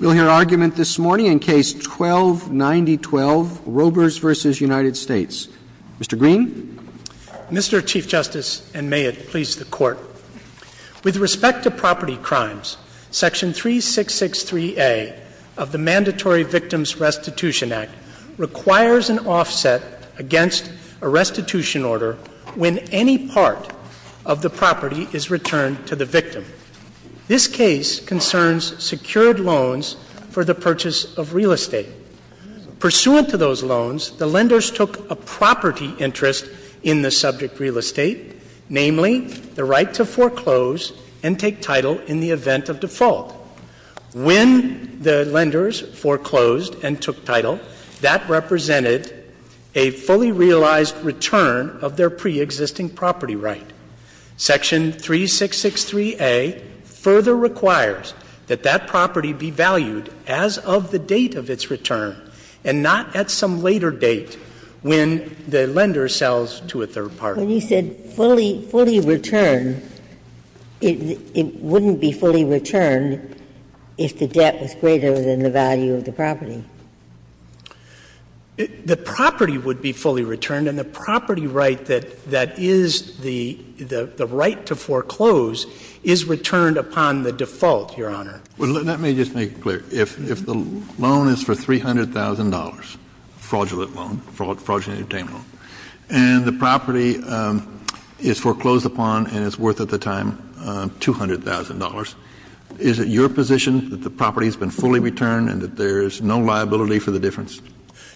We'll hear argument this morning in Case 12-9012, Robers v. United States. Mr. Green. Mr. Chief Justice, and may it please the Court, with respect to property crimes, Section 3663A of the Mandatory Victims Restitution Act requires an offset against a restitution order when any part of the property is returned to the victim. This case concerns secured loans for the purchase of real estate. Pursuant to those loans, the lenders took a property interest in the subject real estate, namely the right to foreclose and take title in the event of default. When the lenders foreclosed and took title, that represented a fully realized return of their preexisting property right. Section 3663A further requires that that property be valued as of the date of its return and not at some later date when the lender sells to a third party. When you said fully, fully returned, it wouldn't be fully returned if the debt was The property would be fully returned, and the property right that is the right to foreclose is returned upon the default, Your Honor. Let me just make it clear. If the loan is for $300,000, fraudulent loan, fraudulently obtained loan, and the property is foreclosed upon and is worth at the time $200,000, is it your position that the property has been fully returned and that there is no liability for the difference?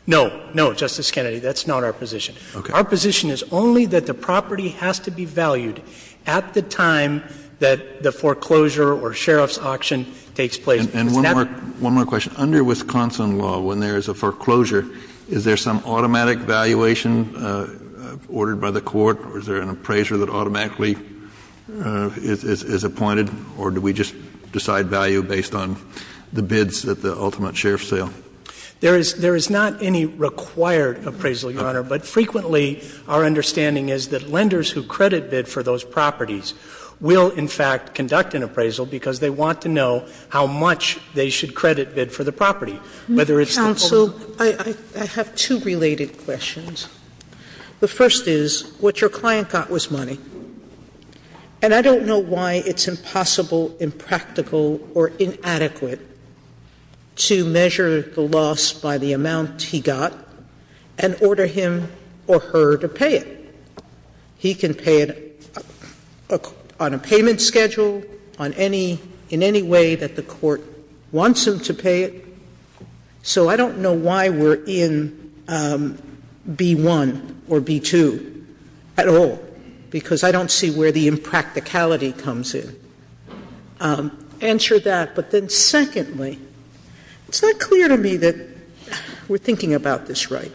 No. No, Justice Kennedy. That's not our position. Our position is only that the property has to be valued at the time that the foreclosure or sheriff's auction takes place. And one more question. Under Wisconsin law, when there is a foreclosure, is there some automatic valuation ordered by the court, or is there an appraiser that automatically is appointed, or do we just decide value based on the bids at the ultimate sheriff's sale? There is not any required appraisal, Your Honor. But frequently our understanding is that lenders who credit bid for those properties will, in fact, conduct an appraisal because they want to know how much they should So I have two related questions. The first is, what your client got was money. And I don't know why it's impossible, impractical, or inadequate to measure the loss by the amount he got and order him or her to pay it. He can pay it on a payment schedule, on any — in any way that the court wants him to pay it. So I don't know why we're in B-1 or B-2 at all, because I don't see where the impracticality comes in. Answer that. But then secondly, it's not clear to me that we're thinking about this right.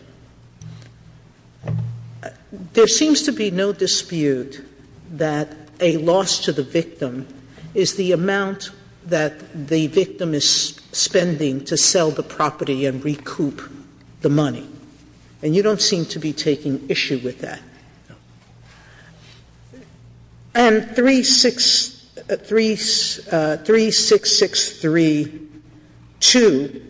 There seems to be no dispute that a loss to the victim is the amount that the victim is spending to sell the property and recoup the money. And you don't seem to be taking issue with that. And 366 — 366-3-2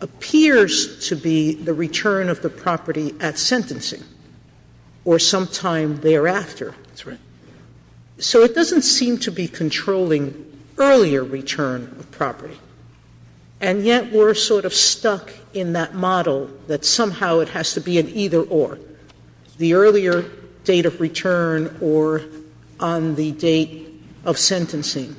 appears to be the return of the property at sentencing or sometime thereafter. That's right. So it doesn't seem to be controlling earlier return of property. And yet we're sort of stuck in that model that somehow it has to be an either-or, the earlier date of return or on the date of sentencing.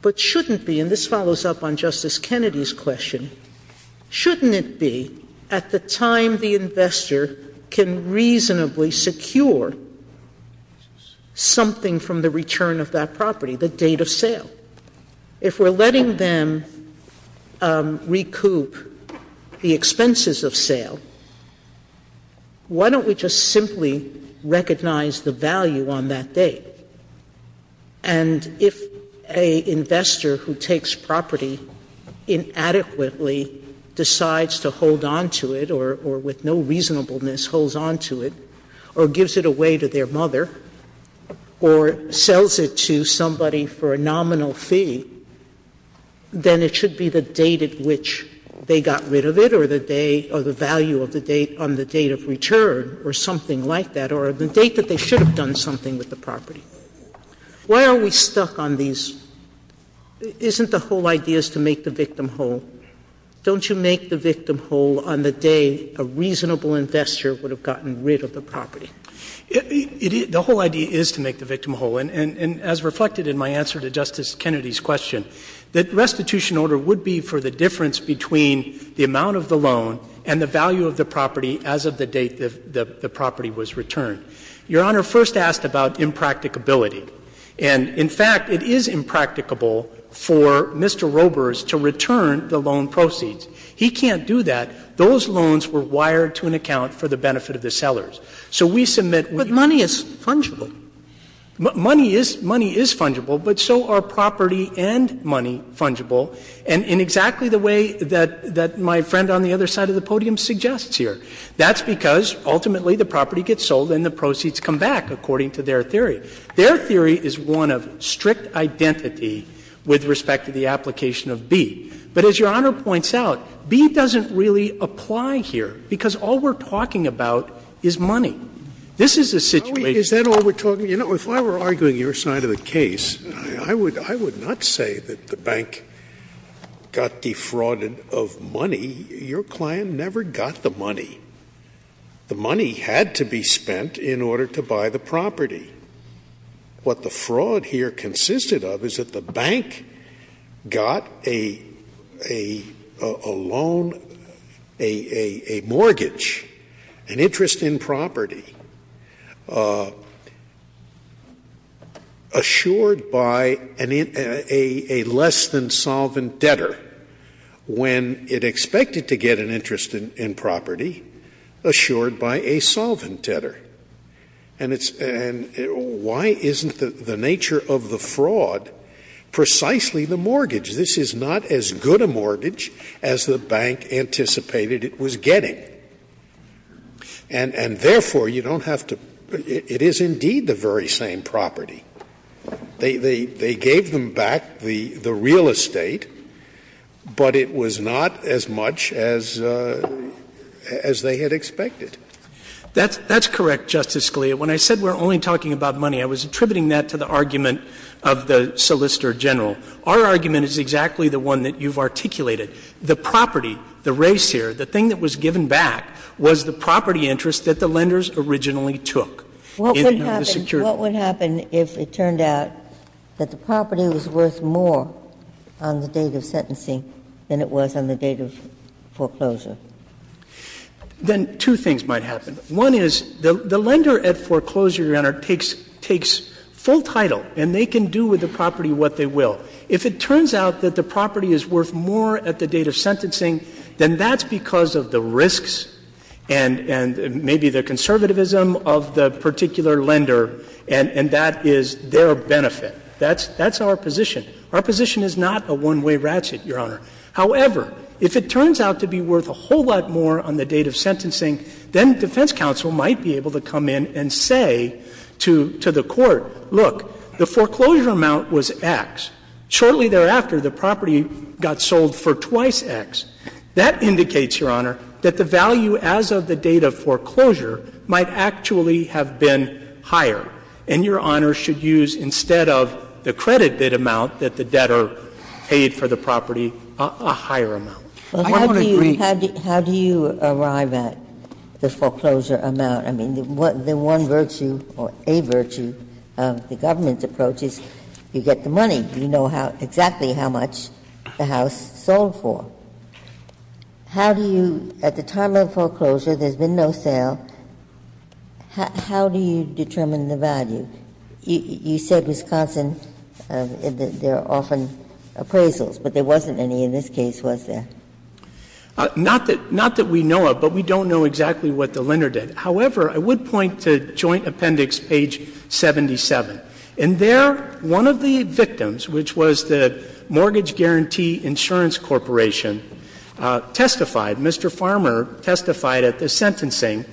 But shouldn't be — and this follows up on Justice Kennedy's question — shouldn't it be at the time the investor can reasonably secure something from the return of that property, the date of sale? If we're letting them recoup the expenses of sale, why don't we just simply recognize the value on that date? And if an investor who takes property inadequately decides to hold on to it or with no reasonableness holds on to it or gives it away to their mother or sells it to somebody for a nominal fee, then it should be the date at which they got rid of it or the day or the value on the date of return or something like that or the date that they should have done something with the property. Why are we stuck on these? Isn't the whole idea is to make the victim whole? Don't you make the victim whole on the day a reasonable investor would have gotten rid of the property? The whole idea is to make the victim whole. And as reflected in my answer to Justice Kennedy's question, that restitution order would be for the difference between the amount of the loan and the value of the property as of the date the property was returned. Your Honor, first asked about impracticability. And, in fact, it is impracticable for Mr. Roebers to return the loan proceeds. He can't do that. Those loans were wired to an account for the benefit of the sellers. So we submit what you say. But money is fungible. Money is fungible, but so are property and money fungible, and in exactly the way that my friend on the other side of the podium suggests here. That's because ultimately the property gets sold and the proceeds come back, according to their theory. Their theory is one of strict identity with respect to the application of B. But as Your Honor points out, B doesn't really apply here, because all we're talking This is a situation that's not fungible. You know, if I were arguing your side of the case, I would not say that the bank got defrauded of money. Your client never got the money. The money had to be spent in order to buy the property. What the fraud here consisted of is that the bank got a loan, a mortgage, an interest in property. Assured by a less-than-solvent debtor when it expected to get an interest in property, assured by a solvent debtor. And why isn't the nature of the fraud precisely the mortgage? This is not as good a mortgage as the bank anticipated it was getting. And therefore, you don't have to — it is indeed the very same property. They gave them back the real estate, but it was not as much as they had expected. That's correct, Justice Scalia. When I said we're only talking about money, I was attributing that to the argument of the solicitor general. Our argument is exactly the one that you've articulated. The property, the race here, the thing that was given back was the property interest that the lenders originally took. What would happen if it turned out that the property was worth more on the date of sentencing than it was on the date of foreclosure? Then two things might happen. One is the lender at foreclosure, Your Honor, takes full title, and they can do with the property what they will. If it turns out that the property is worth more at the date of sentencing, then that's because of the risks and maybe the conservatism of the particular lender, and that is their benefit. That's our position. Our position is not a one-way ratchet, Your Honor. However, if it turns out to be worth a whole lot more on the date of sentencing, then defense counsel might be able to come in and say to the Court, look, the foreclosure amount was X. Shortly thereafter, the property got sold for twice X. That indicates, Your Honor, that the value as of the date of foreclosure might actually have been higher, and Your Honor should use, instead of the credit bid amount that the debtor paid for the property, a higher amount. I don't want to agree. Ginsburg How do you arrive at the foreclosure amount? I mean, the one virtue or a virtue of the government's approach is you get the money. You know exactly how much the house sold for. How do you, at the time of foreclosure, there's been no sale, how do you determine the value? You said, Wisconsin, that there are often appraisals, but there wasn't any in this case, was there? Not that we know of, but we don't know exactly what the lender did. However, I would point to Joint Appendix, page 77. In there, one of the victims, which was the Mortgage Guarantee Insurance Corporation, testified, Mr. Farmer testified at the sentencing,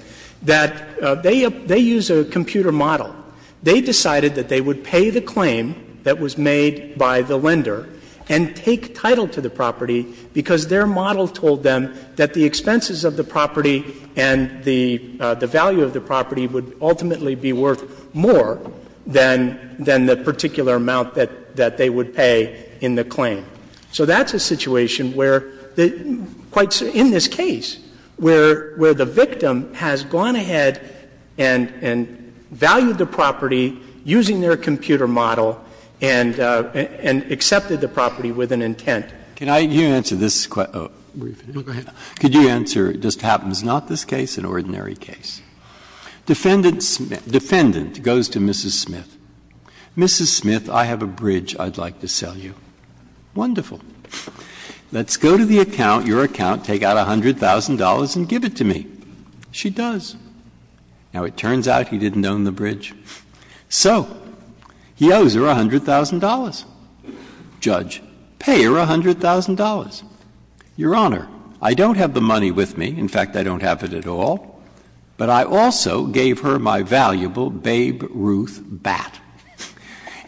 that they use a computer model. They decided that they would pay the claim that was made by the lender and take title to the property because their model told them that the expenses of the property and the value of the property would ultimately be worth more than the particular amount that they would pay in the claim. So that's a situation where, quite in this case, where the victim has gone ahead and valued the property using their computer model and accepted the property with an intent. Breyer. Could you answer this question? Go ahead. Could you answer, it just happens, not this case, an ordinary case. Defendant goes to Mrs. Smith. Mrs. Smith, I have a bridge I'd like to sell you. Wonderful. Let's go to the account, your account, take out $100,000 and give it to me. She does. Now, it turns out he didn't own the bridge. So he owes her $100,000. Judge, pay her $100,000. Your Honor, I don't have the money with me. In fact, I don't have it at all. But I also gave her my valuable Babe Ruth bat.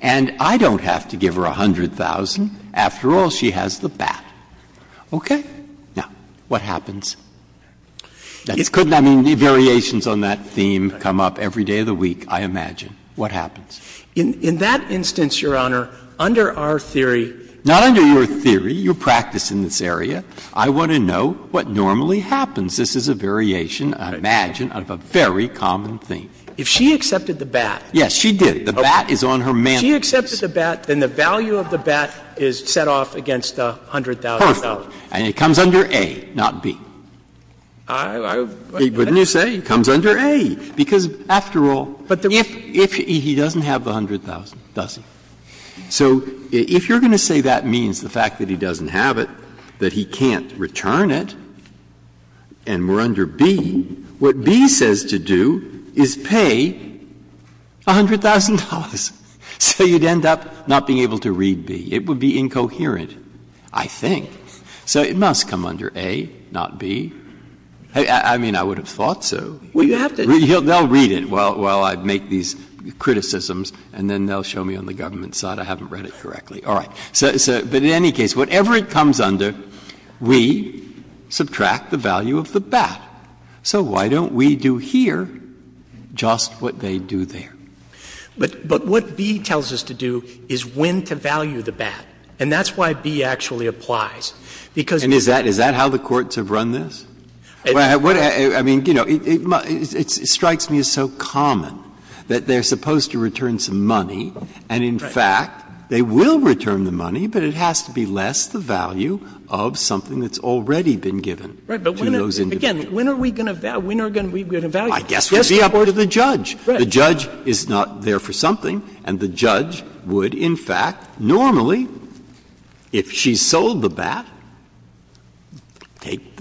And I don't have to give her $100,000. After all, she has the bat. Okay? Now, what happens? I mean, variations on that theme come up every day of the week, I imagine. What happens? In that instance, your Honor, under our theory. Not under your theory. You practice in this area. I want to know what normally happens. This is a variation, I imagine, of a very common theme. If she accepted the bat. Yes, she did. The bat is on her mantel. If she accepted the bat, then the value of the bat is set off against the $100,000. Perfect. And it comes under A, not B. Wouldn't you say? It comes under A. Because, after all, if he doesn't have the $100,000, does he? So if you're going to say that means the fact that he doesn't have it, that he can't return it, and we're under B, what B says to do is pay $100,000. So you'd end up not being able to read B. It would be incoherent, I think. So it must come under A, not B. I mean, I would have thought so. They'll read it while I make these criticisms, and then they'll show me on the government side. I haven't read it correctly. All right. But in any case, whatever it comes under, we subtract the value of the bat. So why don't we do here just what they do there? But what B tells us to do is when to value the bat. And that's why B actually applies. And is that how the courts have run this? I mean, you know, it strikes me as so common that they are supposed to return some money, and in fact, they will return the money, but it has to be less the value of something that's already been given to those individuals. Again, when are we going to value it? I guess it would be up to the judge. The judge is not there for something, and the judge would in fact normally, if she sold the bat, take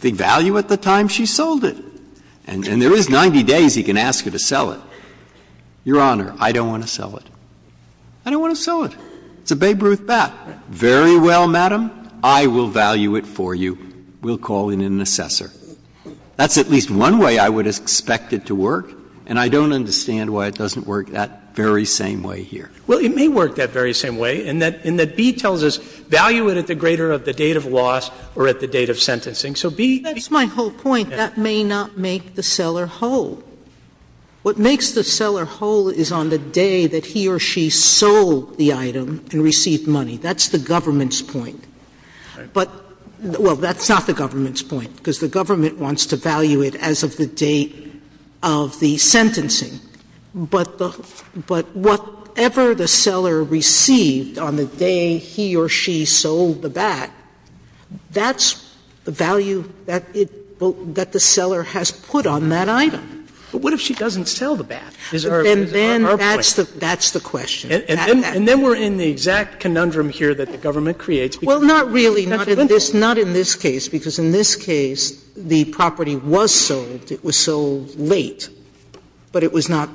the value at the time she sold it. And there is 90 days he can ask her to sell it. Your Honor, I don't want to sell it. I don't want to sell it. It's a Babe Ruth bat. Very well, Madam, I will value it for you. We'll call in an assessor. That's at least one way I would expect it to work, and I don't understand why it doesn't work that very same way here. Well, it may work that very same way, in that B tells us value it at the greater of the date of loss or at the date of sentencing. So B. Sotomayor, that's my whole point. That may not make the seller whole. What makes the seller whole is on the day that he or she sold the item and received money. That's the government's point. But, well, that's not the government's point, because the government wants to value it as of the date of the sentencing. But whatever the seller received on the day he or she sold the bat, that's the value that the seller has put on that item. But what if she doesn't sell the bat? And then that's the question. And then we're in the exact conundrum here that the government creates. Well, not really. Not in this case, because in this case the property was sold, it was sold late. But it was not,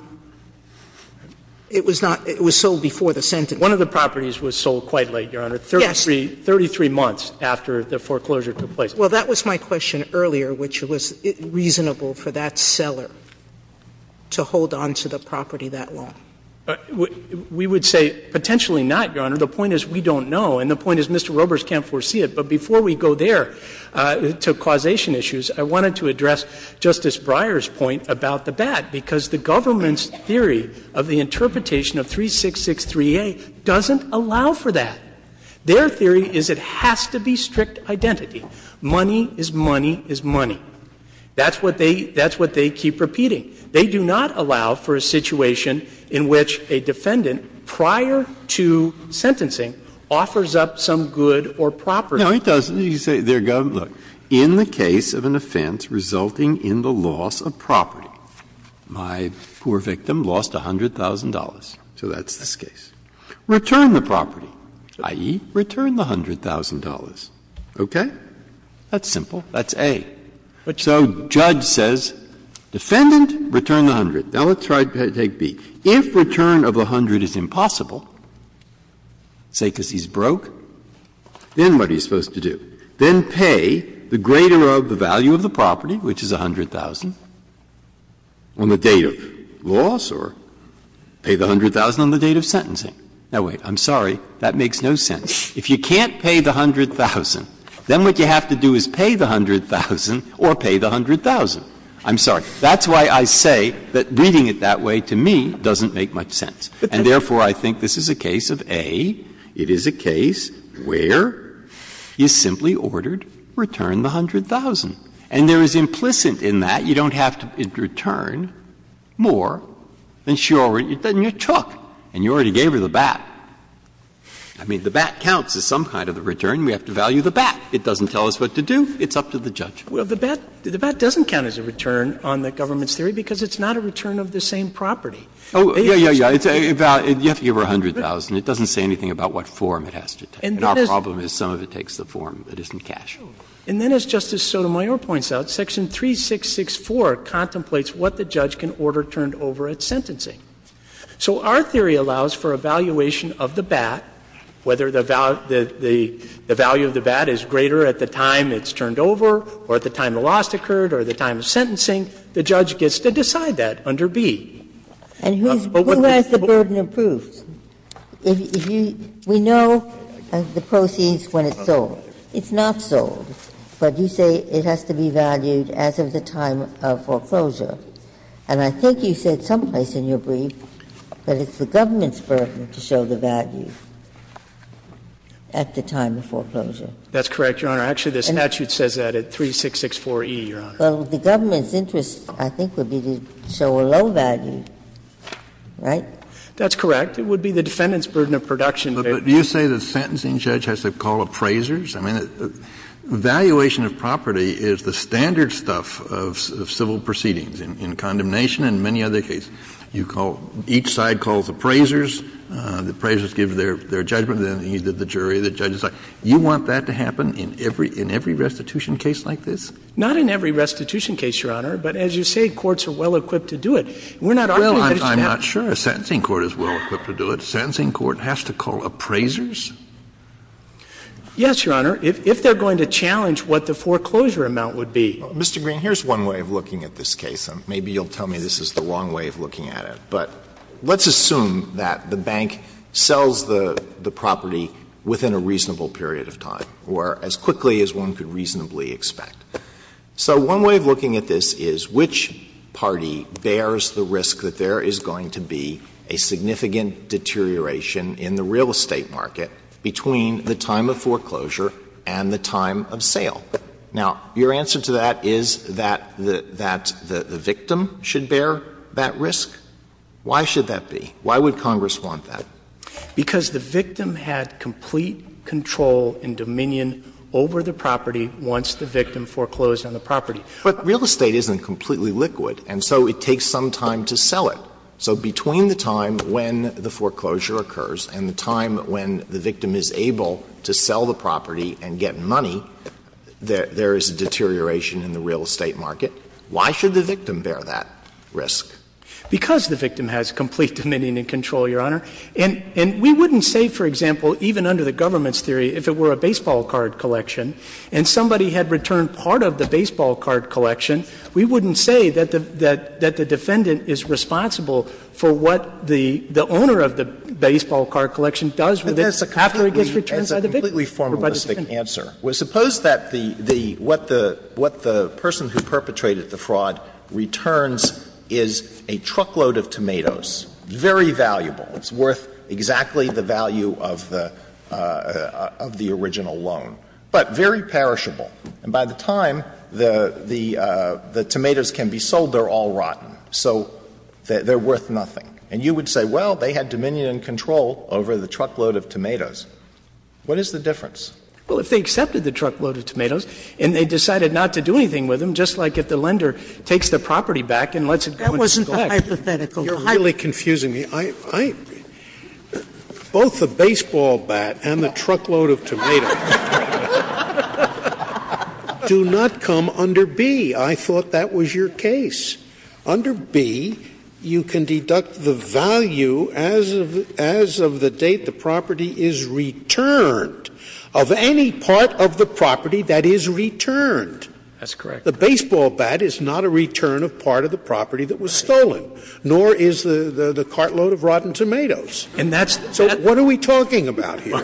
it was not, it was sold before the sentencing. One of the properties was sold quite late, Your Honor. Yes. 33 months after the foreclosure took place. Well, that was my question earlier, which was reasonable for that seller to hold on to the property that long. We would say potentially not, Your Honor. The point is we don't know. And the point is Mr. Robers can't foresee it. But before we go there to causation issues, I wanted to address Justice Breyer's point about the bat, because the government's theory of the interpretation of 3663A doesn't allow for that. Their theory is it has to be strict identity. Money is money is money. That's what they keep repeating. They do not allow for a situation in which a defendant prior to sentencing offers up some good or property. No, he doesn't. You say their government, look, in the case of an offense resulting in the loss of property, my poor victim lost $100,000, so that's this case. Return the property, i.e., return the $100,000. Okay? That's simple. That's A. So judge says defendant, return the $100,000. Now, let's try to take B. If return of the $100,000 is impossible, say because he's broke, then what are you going to do? Then pay the greater of the value of the property, which is $100,000, on the date of loss, or pay the $100,000 on the date of sentencing. Now, wait, I'm sorry, that makes no sense. If you can't pay the $100,000, then what you have to do is pay the $100,000 or pay the $100,000. I'm sorry. That's why I say that reading it that way, to me, doesn't make much sense. And therefore, I think this is a case of A. It is a case where you simply ordered, return the $100,000. And there is implicit in that you don't have to return more than she already took, and you already gave her the bat. I mean, the bat counts as some kind of a return. We have to value the bat. It doesn't tell us what to do. It's up to the judge. Well, the bat doesn't count as a return on the government's theory because it's not a return of the same property. Oh, yeah, yeah, yeah. You have to give her $100,000. It doesn't say anything about what form it has to take. And our problem is some of it takes the form. It isn't cash. And then, as Justice Sotomayor points out, section 3664 contemplates what the judge can order turned over at sentencing. So our theory allows for a valuation of the bat, whether the value of the bat is greater at the time it's turned over or at the time the loss occurred or the time of sentencing, the judge gets to decide that under B. And who has the burden of proof? If you – we know the proceeds when it's sold. It's not sold, but you say it has to be valued as of the time of foreclosure. And I think you said someplace in your brief that it's the government's burden to show the value at the time of foreclosure. That's correct, Your Honor. Actually, the statute says that at 3664e, Your Honor. Well, the government's interest, I think, would be to show a low value, right? That's correct. It would be the defendant's burden of production. But do you say the sentencing judge has to call appraisers? I mean, valuation of property is the standard stuff of civil proceedings in condemnation and many other cases. You call – each side calls appraisers. The appraisers give their judgment, then the jury, the judge decide. You want that to happen in every restitution case like this? Not in every restitution case, Your Honor. But as you say, courts are well-equipped to do it. We're not arguing that it's not. Well, I'm not sure a sentencing court is well-equipped to do it. A sentencing court has to call appraisers? Yes, Your Honor, if they're going to challenge what the foreclosure amount would be. Mr. Green, here's one way of looking at this case. Maybe you'll tell me this is the wrong way of looking at it. But let's assume that the bank sells the property within a reasonable period of time or as quickly as one could reasonably expect. So one way of looking at this is which party bears the risk that there is going to be a significant deterioration in the real estate market between the time of foreclosure and the time of sale? Now, your answer to that is that the victim should bear that risk? Why should that be? Why would Congress want that? Because the victim had complete control and dominion over the property once the victim foreclosed on the property. But real estate isn't completely liquid, and so it takes some time to sell it. So between the time when the foreclosure occurs and the time when the victim is able to sell the property and get money, there is a deterioration in the real estate market. Why should the victim bear that risk? Because the victim has complete dominion and control, Your Honor. And we wouldn't say, for example, even under the government's theory, if it were a baseball card collection and somebody had returned part of the baseball card collection, we wouldn't say that the defendant is responsible for what the owner of the baseball card collection does with it after it gets returned by the victim. Alitoso, it's a completely formalistic answer. Suppose that the what the person who perpetrated the fraud returns is a truckload of tomatoes, very valuable, it's worth exactly the value of the original loan, but very perishable. And by the time the tomatoes can be sold, they're all rotten. So they're worth nothing. And you would say, well, they had dominion and control over the truckload of tomatoes. What is the difference? Well, if they accepted the truckload of tomatoes and they decided not to do anything with them, just like if the lender takes the property back and lets it go into the collection. That wasn't the hypothetical. You're really confusing me. Both the baseball bat and the truckload of tomatoes do not come under B. I thought that was your case. Under B, you can deduct the value as of the date the property is returned of any part of the property that is returned. That's correct. The baseball bat is not a return of part of the property that was stolen, nor is the cartload of rotten tomatoes. So what are we talking about here?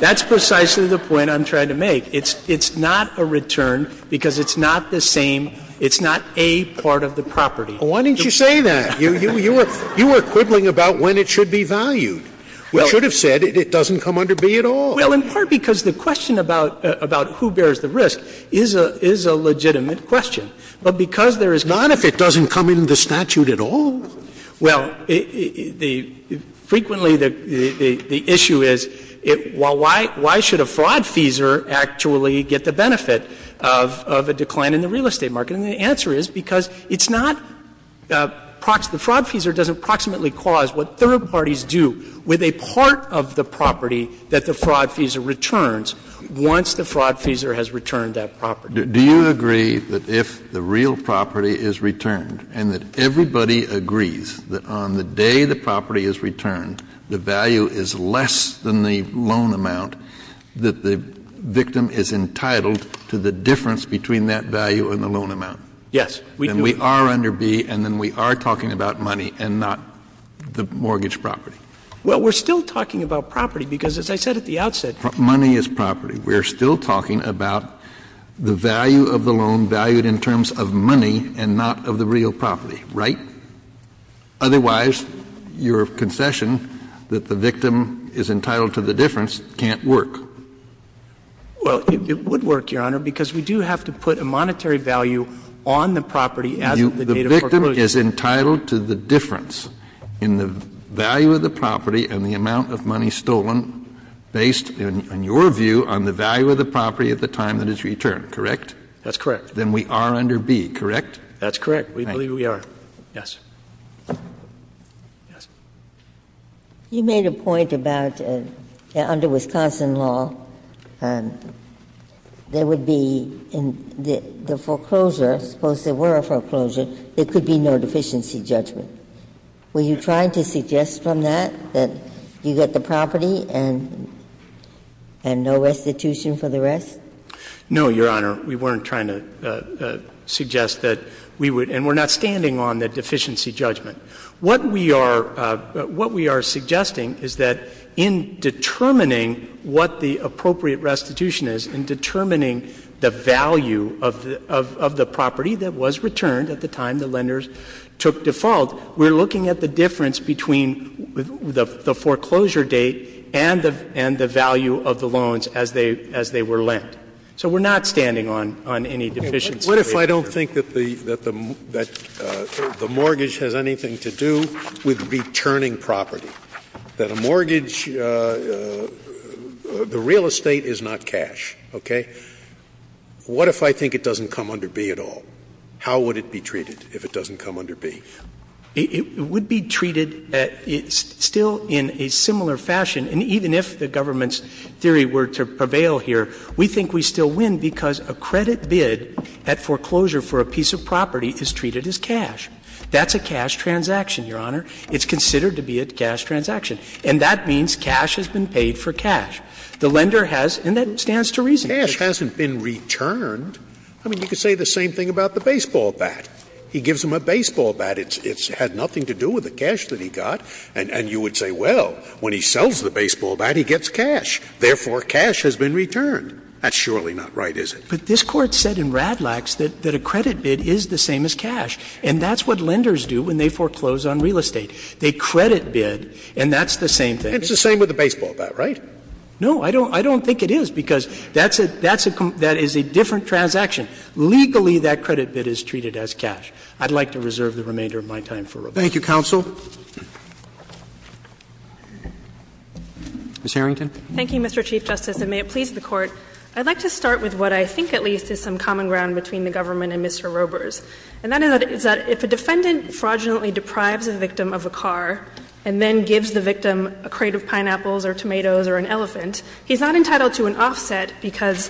That's precisely the point I'm trying to make. It's not a return because it's not the same. It's not a part of the property. Why didn't you say that? You were quibbling about when it should be valued. You should have said it doesn't come under B at all. Well, in part because the question about who bears the risk is a legitimate question. But because there is not. Not if it doesn't come in the statute at all. Well, frequently the issue is why should a fraud feeser actually get the benefit of a decline in the real estate market? And the answer is because it's not the fraud feeser doesn't proximately cause what third parties do with a part of the property that the fraud feeser returns once the fraud feeser has returned that property. Do you agree that if the real property is returned and that everybody agrees that on the day the property is returned, the value is less than the loan amount, that the victim is entitled to the difference between that value and the loan amount? Yes. Then we are under B and then we are talking about money and not the mortgage property. Well, we're still talking about property because as I said at the outset. Money is property. We're still talking about the value of the loan valued in terms of money and not of the real property, right? Otherwise, your concession that the victim is entitled to the difference can't work. Well, it would work, Your Honor, because we do have to put a monetary value on the property as of the date of foreclosure. The victim is entitled to the difference in the value of the property and the amount of money stolen based, in your view, on the value of the property at the time that it's returned, correct? That's correct. Then we are under B, correct? That's correct. We believe we are. Yes. Yes. You made a point about under Wisconsin law, there would be in the foreclosure, suppose there were a foreclosure, there could be no deficiency judgment. Were you trying to suggest from that that you get the property and no restitution for the rest? No, Your Honor. We weren't trying to suggest that we would. And we're not standing on the deficiency judgment. What we are suggesting is that in determining what the appropriate restitution is, in determining the value of the property that was returned at the time the lenders took default, we're looking at the difference between the foreclosure date and the value of the loans as they were lent. So we're not standing on any deficiency judgment. What if I don't think that the mortgage has anything to do with returning property, that a mortgage, the real estate is not cash, okay? What if I think it doesn't come under B at all? How would it be treated if it doesn't come under B? It would be treated still in a similar fashion. And even if the government's theory were to prevail here, we think we still win because a credit bid at foreclosure for a piece of property is treated as cash. That's a cash transaction, Your Honor. It's considered to be a cash transaction. And that means cash has been paid for cash. The lender has, and that stands to reason. Cash hasn't been returned. I mean, you could say the same thing about the baseball bat. He gives him a baseball bat. It's had nothing to do with the cash that he got. And you would say, well, when he sells the baseball bat, he gets cash. Therefore, cash has been returned. That's surely not right, is it? But this Court said in Radlax that a credit bid is the same as cash. And that's what lenders do when they foreclose on real estate. They credit bid, and that's the same thing. It's the same with the baseball bat, right? No, I don't think it is, because that is a different transaction. Legally, that credit bid is treated as cash. I'd like to reserve the remainder of my time for rebuttal. Roberts. Roberts. Thank you, counsel. Ms. Harrington. Thank you, Mr. Chief Justice, and may it please the Court. I'd like to start with what I think at least is some common ground between the government and Mr. Robers. And that is that if a defendant fraudulently deprives a victim of a car and then or an elephant, he's not entitled to an offset because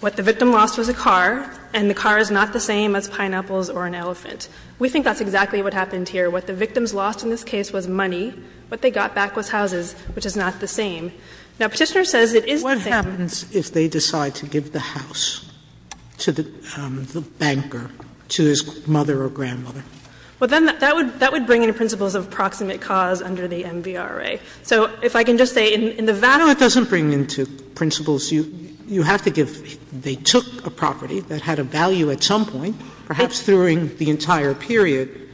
what the victim lost was a car and the car is not the same as pineapples or an elephant. We think that's exactly what happened here. What the victims lost in this case was money. What they got back was houses, which is not the same. Now, Petitioner says it is the same. What happens if they decide to give the house to the banker, to his mother or grandmother? Well, then that would bring in principles of proximate cause under the MVRA. So if I can just say, in the vassal. No, it doesn't bring into principles. You have to give them. They took a property that had a value at some point, perhaps during the entire period.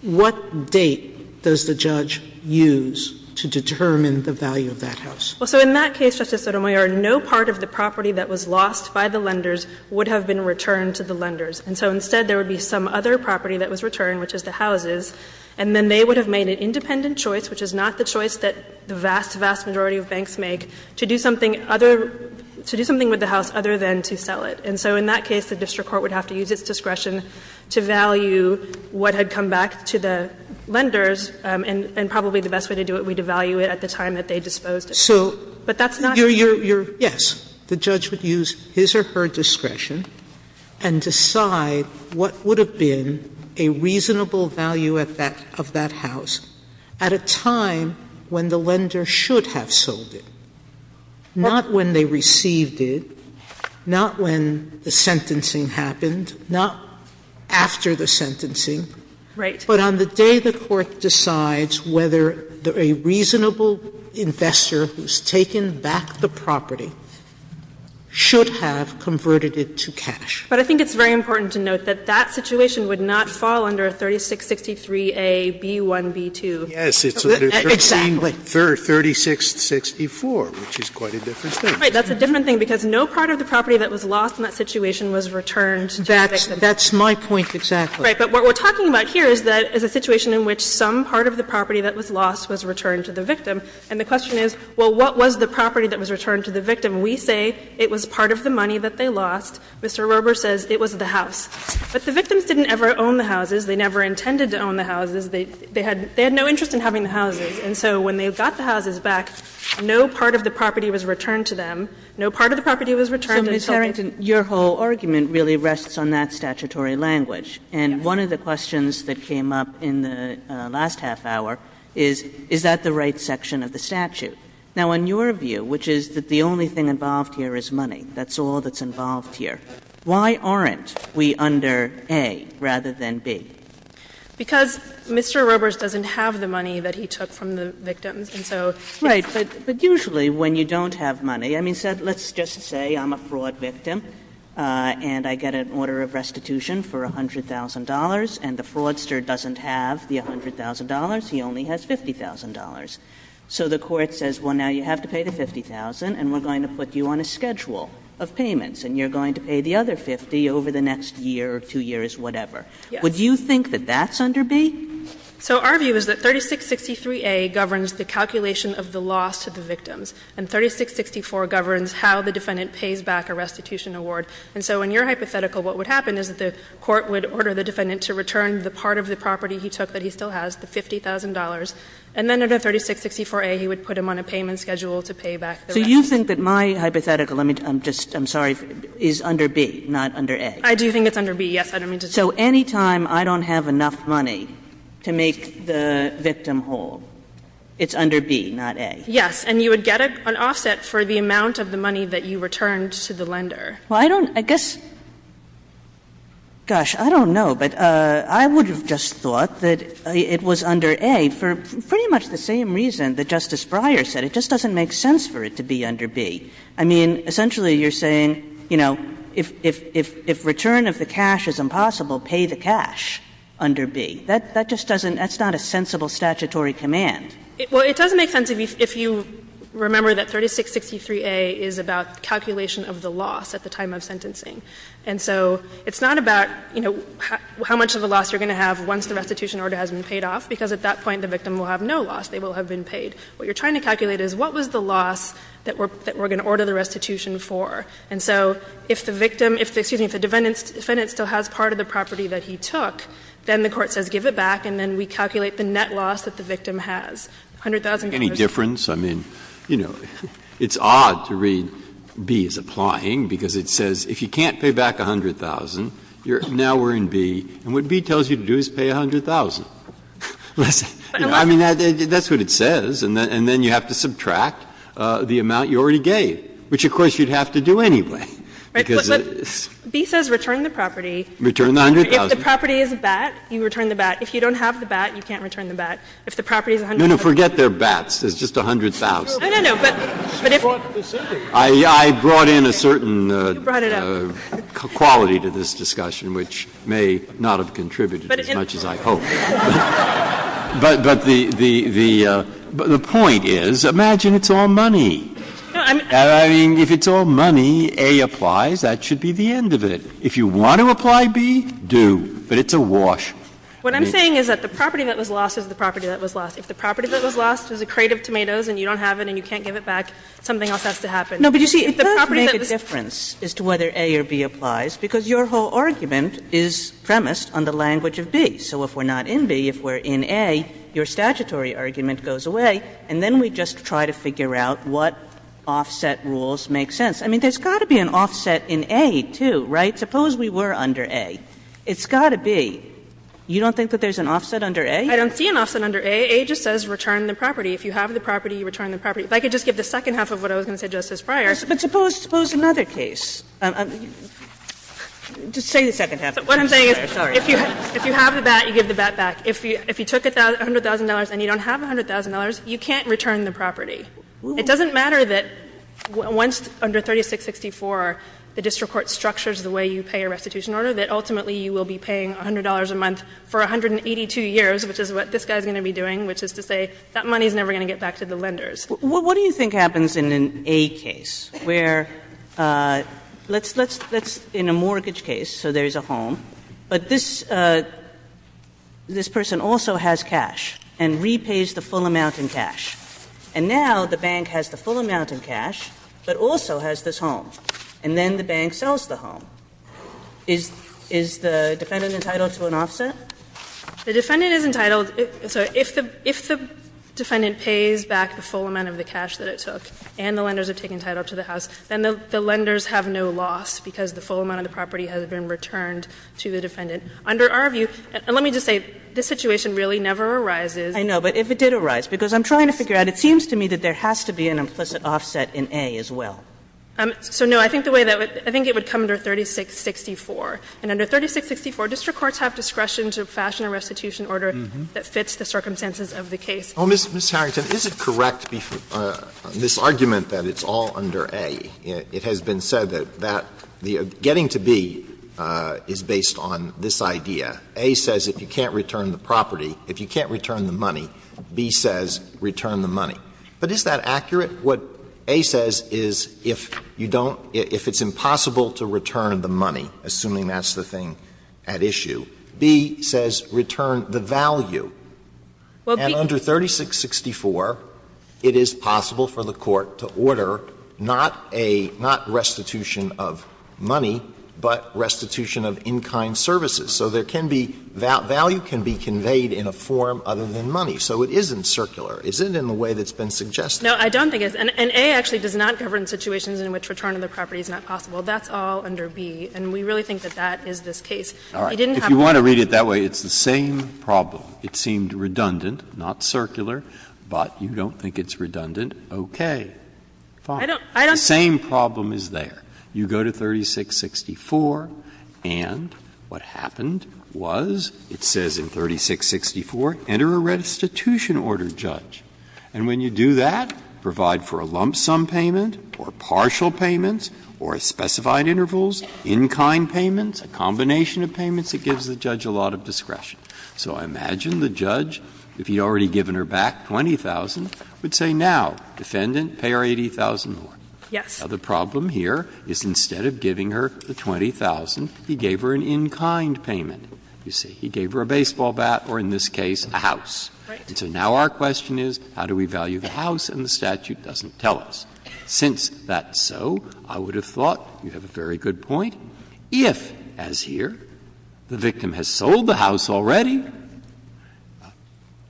What date does the judge use to determine the value of that house? Well, in that case, Justice Sotomayor, no part of the property that was lost by the lenders would have been returned to the lenders. And so instead there would be some other property that was returned, which is the houses, and then they would have made an independent choice, which is not the choice that the vast, vast majority of banks make, to do something other to do something with the house other than to sell it. And so in that case, the district court would have to use its discretion to value what had come back to the lenders, and probably the best way to do it would be to value it at the time that they disposed it. But that's not true. So you're, yes, the judge would use his or her discretion and decide what would have been a reasonable value of that house at a time when the lender should have sold it, not when they received it, not when the sentencing happened, not after the sentencing, but on the day the court decides whether a reasonable investor who's taken back the property should have converted it to cash. But I think it's very important to note that that situation would not fall under 3663a)(b)(1)(b)(2). Yes, it's under 3664, which is quite a different thing. Right. That's a different thing because no part of the property that was lost in that situation was returned to the victim. That's my point exactly. Right. But what we're talking about here is a situation in which some part of the property that was lost was returned to the victim. And the question is, well, what was the property that was returned to the victim? We say it was part of the money that they lost. Mr. Rober says it was the house. But the victims didn't ever own the houses. They never intended to own the houses. They had no interest in having the houses. And so when they got the houses back, no part of the property was returned to them. No part of the property was returned until they didn't. So, Ms. Harrington, your whole argument really rests on that statutory language. And one of the questions that came up in the last half hour is, is that the right section of the statute? Now, in your view, which is that the only thing involved here is money, that's the law that's involved here. Why aren't we under A rather than B? Because Mr. Rober doesn't have the money that he took from the victims, and so it's Right. But usually when you don't have money, I mean, let's just say I'm a fraud victim and I get an order of restitution for $100,000 and the fraudster doesn't have the $100,000. He only has $50,000. So the Court says, well, now you have to pay the $50,000 and we're going to put you on a schedule of payments and you're going to pay the other $50,000 over the next year or two years, whatever. Would you think that that's under B? So our view is that 3663a governs the calculation of the loss to the victims. And 3664 governs how the defendant pays back a restitution award. And so in your hypothetical, what would happen is that the Court would order the defendant to return the part of the property he took that he still has, the $50,000, and then under 3664a he would put him on a payment schedule to pay back the restitution. So you think that my hypothetical, let me just, I'm sorry, is under B, not under A? I do think it's under B, yes. So any time I don't have enough money to make the victim whole, it's under B, not A? Yes. And you would get an offset for the amount of the money that you returned to the lender. Well, I don't, I guess, gosh, I don't know, but I would have just thought that it was under A for pretty much the same reason that Justice Breyer said. It just doesn't make sense for it to be under B. I mean, essentially, you're saying, you know, if return of the cash is impossible, pay the cash under B. That just doesn't, that's not a sensible statutory command. Well, it does make sense if you remember that 3663a is about calculation of the loss at the time of sentencing. And so it's not about, you know, how much of the loss you're going to have once the restitution order has been paid off, because at that point the victim will have no loss. They will have been paid. What you're trying to calculate is what was the loss that we're going to order the restitution for. And so if the victim, excuse me, if the defendant still has part of the property that he took, then the court says give it back, and then we calculate the net loss that the victim has, $100,000. Any difference? I mean, you know, it's odd to read B as applying, because it says if you can't pay back $100,000, now we're in B, and what B tells you to do is pay $100,000. I mean, that's what it says. And then you have to subtract the amount you already gave, which, of course, you'd have to do anyway. Because it's — But B says return the property. Return the $100,000. If the property is a bat, you return the bat. If you don't have the bat, you can't return the bat. If the property is $100,000 — No, no. Forget they're bats. It's just $100,000. No, no, no. But if — She brought this in. I brought in a certain — You brought it up. — quality to this discussion, which may not have contributed as much as I hoped. But the point is, imagine it's all money. I mean, if it's all money, A applies, that should be the end of it. If you want to apply B, do. But it's a wash. What I'm saying is that the property that was lost is the property that was lost. If the property that was lost was a crate of tomatoes and you don't have it and you can't give it back, something else has to happen. No, but you see, it does make a difference as to whether A or B applies, because your whole argument is premised on the language of B. So if we're not in B, if we're in A, your statutory argument goes away, and then we just try to figure out what offset rules make sense. I mean, there's got to be an offset in A, too, right? Suppose we were under A. It's got to be. You don't think that there's an offset under A? I don't see an offset under A. A just says return the property. If you have the property, you return the property. If I could just give the second half of what I was going to say just as prior. But suppose — suppose another case. Just say the second half. What I'm saying is, if you have the bat, you give the bat back. If you took $100,000 and you don't have $100,000, you can't return the property. It doesn't matter that once under 3664 the district court structures the way you pay a restitution order, that ultimately you will be paying $100 a month for 182 years, which is what this guy is going to be doing, which is to say that money is never going to get back to the lenders. Kagan. What do you think happens in an A case where — let's — in a mortgage case, so there's a home, but this — this person also has cash and repays the full amount in cash. And now the bank has the full amount in cash, but also has this home. And then the bank sells the home. Is — is the defendant entitled to an offset? The defendant is entitled — sorry. If the — if the defendant pays back the full amount of the cash that it took and the lenders have taken title to the house, then the lenders have no loss because the full amount of the property has been returned to the defendant. Under our view — and let me just say, this situation really never arises. Kagan. But if it did arise, because I'm trying to figure out, it seems to me that there has to be an implicit offset in A as well. So, no, I think the way that would — I think it would come under 3664. And under 3664, district courts have discretion to fashion a restitution order that fits the circumstances of the case. Alito, Mr. Harrington, is it correct, this argument that it's all under A? It has been said that that — that getting to B is based on this idea. A says if you can't return the property, if you can't return the money, B says return the money. But is that accurate? What A says is if you don't — if it's impossible to return the money, assuming that's the thing at issue, B says return the value. And under 3664, it is possible for the court to order not a — not restitution of money, but restitution of in-kind services. So there can be — value can be conveyed in a form other than money. So it isn't circular, is it, in the way that's been suggested? No, I don't think it is. And A actually does not govern situations in which return of the property is not possible. That's all under B. And we really think that that is this case. It didn't have to be— Breyer, if you want to read it that way, it's the same problem. It seemed redundant, not circular, but you don't think it's redundant. Okay. Fine. The same problem is there. You go to 3664, and what happened was it says in 3664, enter a restitution order, Judge. And when you do that, provide for a lump sum payment or partial payments or specified intervals, in-kind payments, a combination of payments, it gives the judge a lot of discretion. So I imagine the judge, if he had already given her back 20,000, would say now, defendant, pay her 80,000 more. Yes. Now, the problem here is instead of giving her the 20,000, he gave her an in-kind payment. You see, he gave her a baseball bat or, in this case, a house. Right. So now our question is how do we value the house, and the statute doesn't tell us. Since that's so, I would have thought, you have a very good point, if, as here, the victim has sold the house already,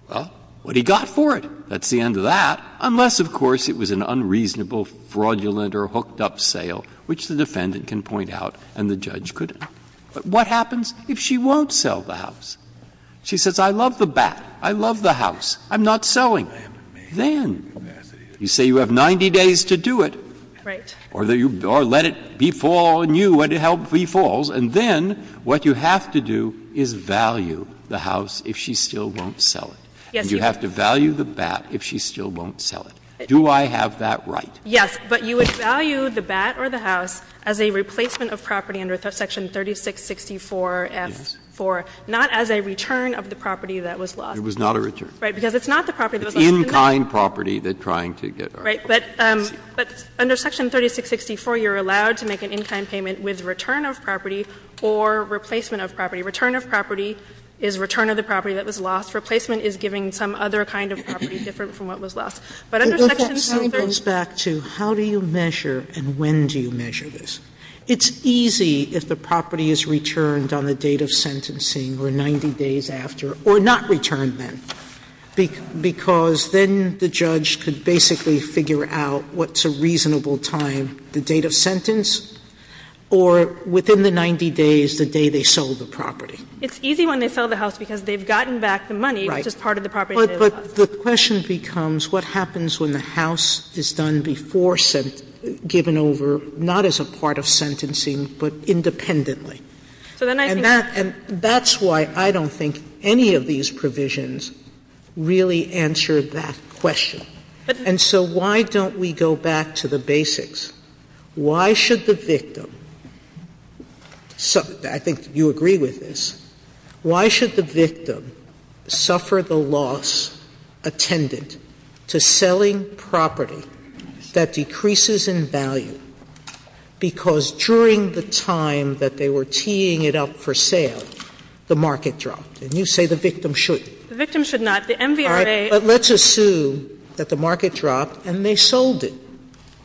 well, what he got for it. That's the end of that, unless, of course, it was an unreasonable, fraudulent or hooked-up sale, which the defendant can point out and the judge could. But what happens if she won't sell the house? She says, I love the bat, I love the house, I'm not selling. Then you say you have 90 days to do it. Right. Or let it befall on you when it helpfully falls, and then what you have to do is value the house if she still won't sell it. Yes. And you have to value the bat if she still won't sell it. Do I have that right? Yes. But you would value the bat or the house as a replacement of property under Section 3664-F-4, not as a return of the property that was lost. It was not a return. Right. Because it's not the property that was lost. It's in-kind property they're trying to get. Right. But under Section 3664, you're allowed to make an in-kind payment with return of property or replacement of property. Return of property is return of the property that was lost. Replacement is giving some other kind of property different from what was lost. But under Section 333- Sotomayor goes back to how do you measure and when do you measure this? It's easy if the property is returned on the date of sentencing or 90 days after or not returned then. Because then the judge could basically figure out what's a reasonable time, the date of sentence, or within the 90 days, the day they sold the property. It's easy when they sell the house because they've gotten back the money, which is part of the property that was lost. But the question becomes what happens when the house is done before sent, given over, not as a part of sentencing, but independently? So then I think that's why I don't think any of these provisions, really answer that question. And so why don't we go back to the basics? Why should the victim so that I think you agree with this. Why should the victim suffer the loss attendant to selling property that decreases in value because during the time that they were teeing it up for sale, the market dropped? And you say the victim shouldn't. The victim should not. Sotomayor But let's assume that the market dropped and they sold it.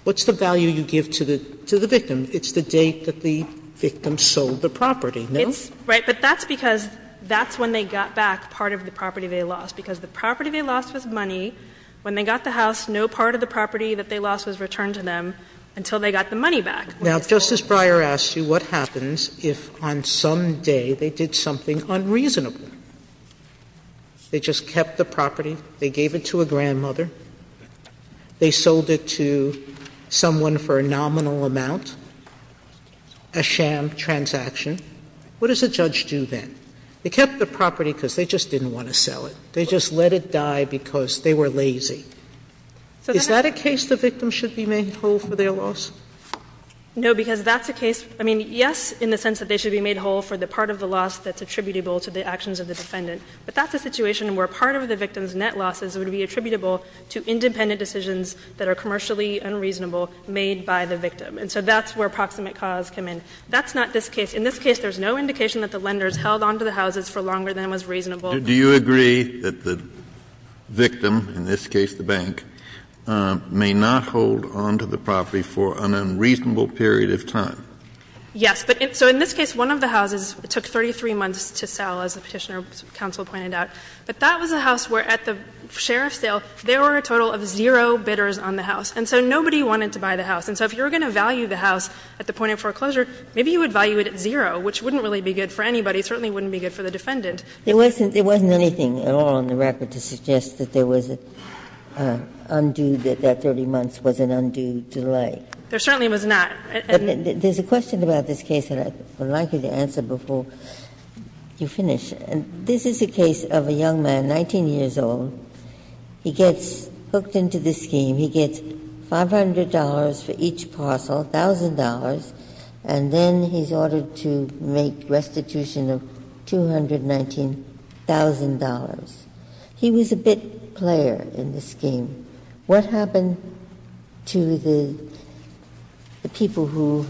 What's the value you give to the victim? It's the date that the victim sold the property, no? Right. But that's because that's when they got back part of the property they lost. Because the property they lost was money. When they got the house, no part of the property that they lost was returned to them until they got the money back. Now, Justice Breyer asks you what happens if on some day they did something unreasonable? They just kept the property, they gave it to a grandmother, they sold it to someone for a nominal amount, a sham transaction. What does a judge do then? They kept the property because they just didn't want to sell it. They just let it die because they were lazy. Is that a case the victim should be made whole for their loss? No, because that's a case. I mean, yes, in the sense that they should be made whole for the part of the loss that's attributable to the actions of the defendant. But that's a situation where part of the victim's net losses would be attributable to independent decisions that are commercially unreasonable, made by the victim. And so that's where proximate cause came in. That's not this case. In this case, there's no indication that the lenders held on to the houses for longer than was reasonable. Kennedy, do you agree that the victim, in this case the bank, may not hold on to the property for an unreasonable period of time? Yes. So in this case, one of the houses took 33 months to sell, as the Petitioner's counsel pointed out. But that was a house where, at the sheriff's sale, there were a total of zero bidders on the house. And so nobody wanted to buy the house. And so if you were going to value the house at the point of foreclosure, maybe you would value it at zero, which wouldn't really be good for anybody. It certainly wouldn't be good for the defendant. There wasn't anything at all in the record to suggest that there was an undue, that that 30 months was an undue delay. There certainly was not. There's a question about this case that I would like you to answer before you finish. This is a case of a young man, 19 years old. He gets hooked into this scheme. He gets $500 for each parcel, $1,000, and then he's ordered to make restitution of $219,000. He was a bid player in this scheme. What happened to the people who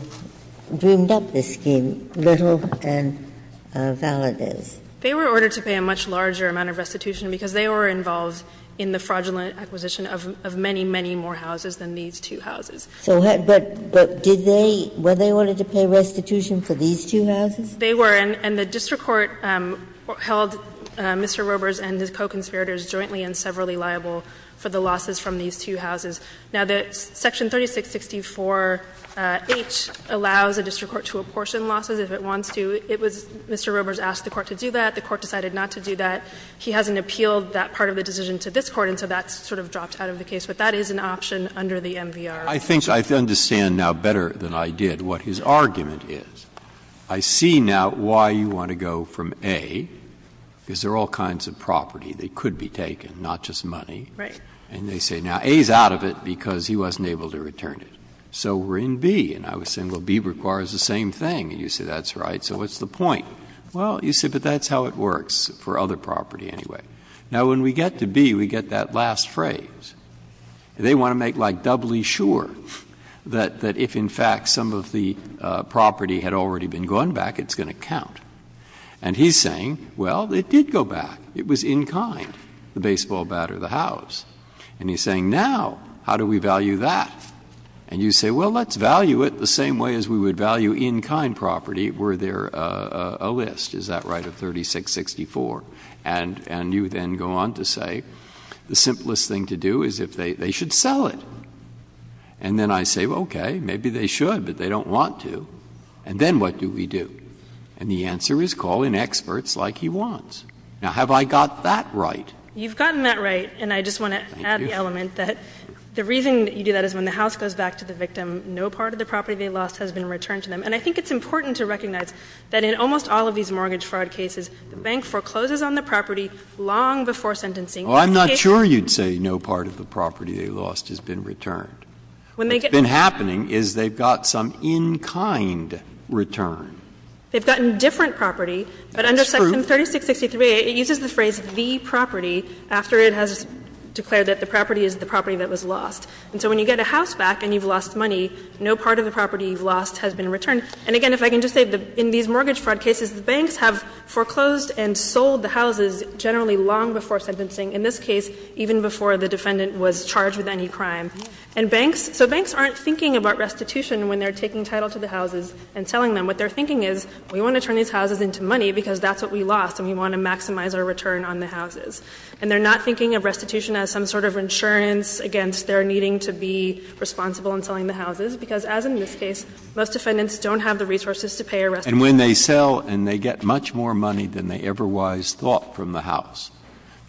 dreamed up this scheme, Little and Valadez? They were ordered to pay a much larger amount of restitution because they were involved in the fraudulent acquisition of many, many more houses than these two houses. So had they been ordered to pay restitution for these two houses? They were. And the district court held Mr. Robers and his co-conspirators jointly and severally liable for the losses from these two houses. Now, the section 3664H allows a district court to apportion losses if it wants to. It was Mr. Robers asked the court to do that. The court decided not to do that. He hasn't appealed that part of the decision to this court, and so that's sort of dropped out of the case. But that is an option under the MVR. Breyer, I think I understand now better than I did what his argument is. I see now why you want to go from A, because there are all kinds of property. They could be taken, not just money. And they say, now, A is out of it because he wasn't able to return it. So we're in B. And I was saying, well, B requires the same thing. And you say, that's right. So what's the point? Well, you say, but that's how it works for other property anyway. Now, when we get to B, we get that last phrase. They want to make, like, doubly sure that if, in fact, some of the property had already been gone back, it's going to count. And he's saying, well, it did go back. It was in-kind, the baseball bat or the house. And he's saying, now, how do we value that? And you say, well, let's value it the same way as we would value in-kind property were there a list, is that right, of 3664. And you then go on to say, the simplest thing to do is if they should sell it. And then I say, okay, maybe they should, but they don't want to. And then what do we do? And the answer is call in experts like he wants. Now, have I got that right? You've gotten that right. And I just want to add the element that the reason you do that is when the house goes back to the victim, no part of the property they lost has been returned to them. And I think it's important to recognize that in almost all of these mortgage fraud cases, the bank forecloses on the property long before sentencing. Well, I'm not sure you'd say no part of the property they lost has been returned. What's been happening is they've got some in-kind return. They've gotten different property. But under section 3663, it uses the phrase the property after it has declared that the property is the property that was lost. And so when you get a house back and you've lost money, no part of the property you've lost has been returned. And again, if I can just say, in these mortgage fraud cases, the banks have foreclosed and sold the houses generally long before sentencing, in this case, even before the defendant was charged with any crime. And banks, so banks aren't thinking about restitution when they're taking title to the houses and selling them. What they're thinking is, we want to turn these houses into money because that's what we lost and we want to maximize our return on the houses. And they're not thinking of restitution as some sort of insurance against their needing to be responsible in selling the houses, because as in this case, most defendants don't have the resources to pay a restitution fee. And when they sell and they get much more money than they ever was thought from the house,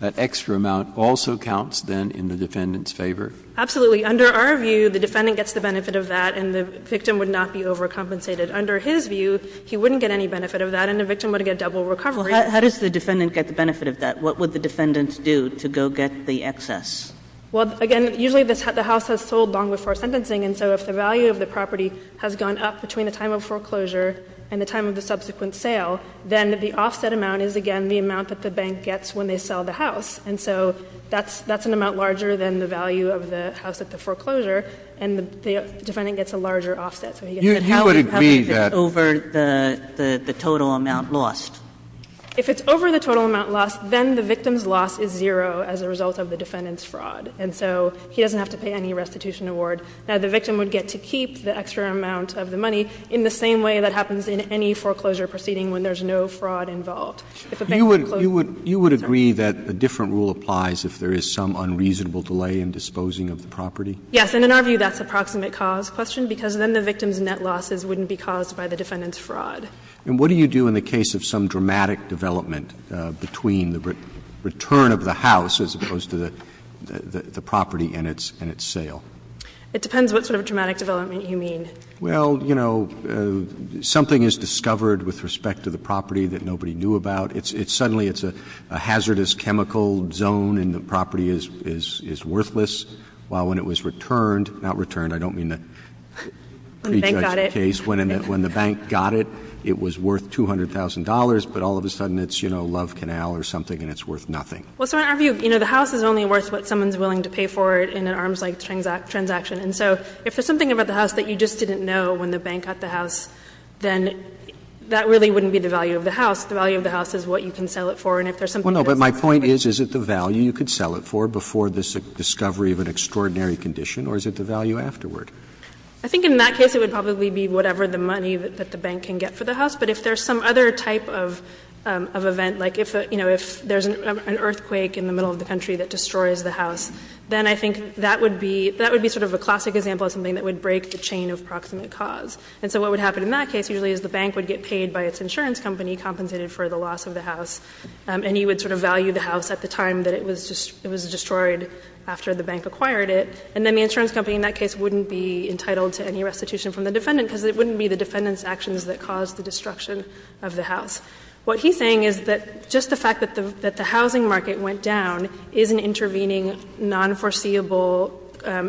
that extra amount also counts then in the defendant's favor? Absolutely. Under our view, the defendant gets the benefit of that and the victim would not be overcompensated. Under his view, he wouldn't get any benefit of that and the victim would get double recovery. Well, how does the defendant get the benefit of that? What would the defendant do to go get the excess? Well, again, usually the house has sold long before sentencing, and so if the value of the property has gone up between the time of foreclosure and the time of the subsequent sale, then the offset amount is, again, the amount that the bank gets when they sell the house. And so that's an amount larger than the value of the house at the foreclosure and the defendant gets a larger offset. You would agree that the total amount lost. If it's over the total amount lost, then the victim's loss is zero as a result of the defendant's fraud. And so he doesn't have to pay any restitution award. Now, the victim would get to keep the extra amount of the money in the same way that happens in any foreclosure proceeding when there's no fraud involved. If a bank forecloses. You would agree that a different rule applies if there is some unreasonable delay in disposing of the property? Yes. And in our view, that's a proximate cause question, because then the victim's net losses wouldn't be caused by the defendant's fraud. And what do you do in the case of some dramatic development between the return of the house as opposed to the property and its sale? It depends what sort of dramatic development you mean. Well, you know, something is discovered with respect to the property that nobody knew about. It's suddenly it's a hazardous chemical zone and the property is worthless, while when it was returned, not returned, I don't mean the prejudged case. When the bank got it, it was worth $200,000, but all of a sudden it's, you know, Love Canal or something and it's worth nothing. Well, so in our view, you know, the house is only worth what someone is willing to pay for in an arms-length transaction. And so if there's something about the house that you just didn't know when the bank got the house, then that really wouldn't be the value of the house. The value of the house is what you can sell it for. And if there's something that's not worth it. No, no, but my point is, is it the value you could sell it for before this discovery of an extraordinary condition or is it the value afterward? I think in that case it would probably be whatever the money that the bank can get for the house. But if there's some other type of event, like if, you know, if there's an earthquake in the middle of the country that destroys the house, then I think that would be sort of a classic example of something that would break the chain of proximate cause. And so what would happen in that case usually is the bank would get paid by its insurance company compensated for the loss of the house. And you would sort of value the house at the time that it was destroyed after the bank acquired it. And then the insurance company in that case wouldn't be entitled to any restitution from the defendant, because it wouldn't be the defendant's actions that caused the destruction of the house. What he's saying is that just the fact that the housing market went down is an intervening, nonforeseeable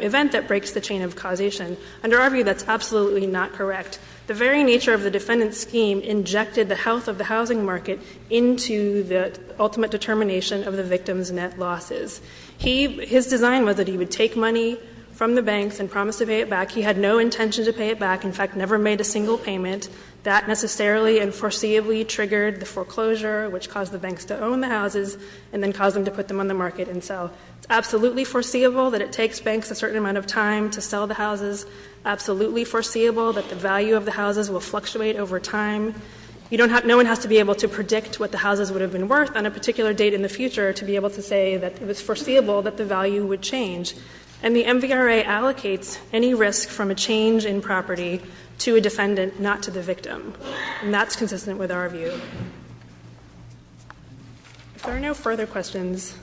event that breaks the chain of causation. Under our view, that's absolutely not correct. The very nature of the defendant's scheme injected the health of the housing market into the ultimate determination of the victim's net losses. He — his design was that he would take money from the banks and promise to pay it back. He had no intention to pay it back. In fact, never made a single payment. That necessarily and foreseeably triggered the foreclosure, which caused the banks to own the houses and then caused them to put them on the market and sell. It's absolutely foreseeable that it takes banks a certain amount of time to sell the houses. Absolutely foreseeable that the value of the houses will fluctuate over time. You don't have — no one has to be able to predict what the houses would have been worth on a particular date in the future to be able to say that it was foreseeable that the value would change. And the MVRA allocates any risk from a change in property to a defendant, not to the victim. And that's consistent with our view. If there are no further questions,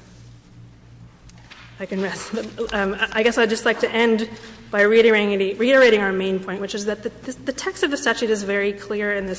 I can rest. I guess I'd just like to end by reiterating our main point, which is that the text of this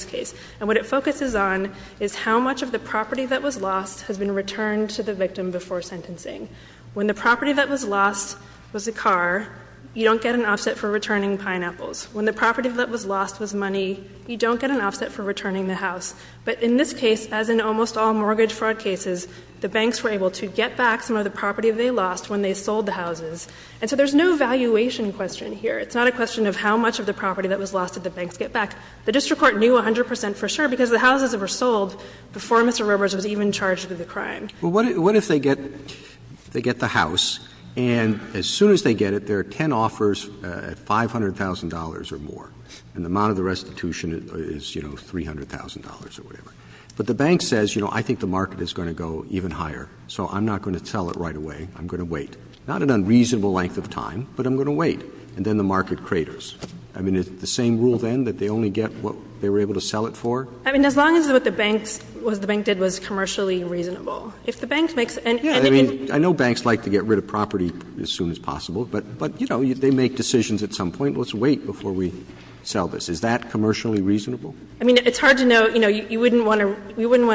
case, and what it focuses on, is how much of the property that was lost has been returned to the victim before sentencing. When the property that was lost was a car, you don't get an offset for returning pineapples. When the property that was lost was money, you don't get an offset for returning the house. But in this case, as in almost all mortgage fraud cases, the banks were able to get back some of the property they lost when they sold the houses. And so there's no valuation question here. It's not a question of how much of the property that was lost did the banks get back. The district court knew 100 percent for sure, because the houses that were sold before Mr. Roberts was even charged with the crime. Roberts. Well, what if they get the house, and as soon as they get it, there are ten offers at $500,000 or more, and the amount of the restitution is, you know, $300,000 or whatever. But the bank says, you know, I think the market is going to go even higher, so I'm not going to sell it right away. I'm going to wait. Not an unreasonable length of time, but I'm going to wait. And then the market craters. I mean, is it the same rule, then, that they only get what they were able to sell it for? I mean, as long as what the banks, what the bank did was commercially reasonable. If the bank makes any, I think it would be reasonable. I mean, I know banks like to get rid of property as soon as possible, but, you know, they make decisions at some point. Let's wait before we sell this. Is that commercially reasonable? I mean, it's hard to know. You know, you wouldn't want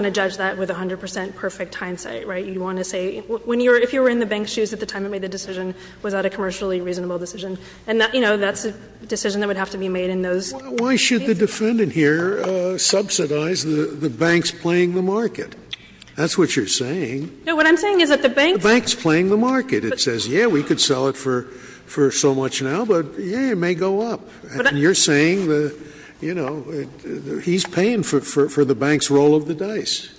to judge that with 100 percent perfect hindsight, right? You want to say, if you were in the bank's shoes at the time they made the decision, was that a commercially reasonable decision? And, you know, that's a decision that would have to be made in those cases. Scalia. Why should the defendant here subsidize the bank's playing the market? That's what you're saying. No, what I'm saying is that the bank's playing the market. It says, yeah, we could sell it for so much now, but, yeah, it may go up. And you're saying, you know, he's paying for the bank's roll of the dice.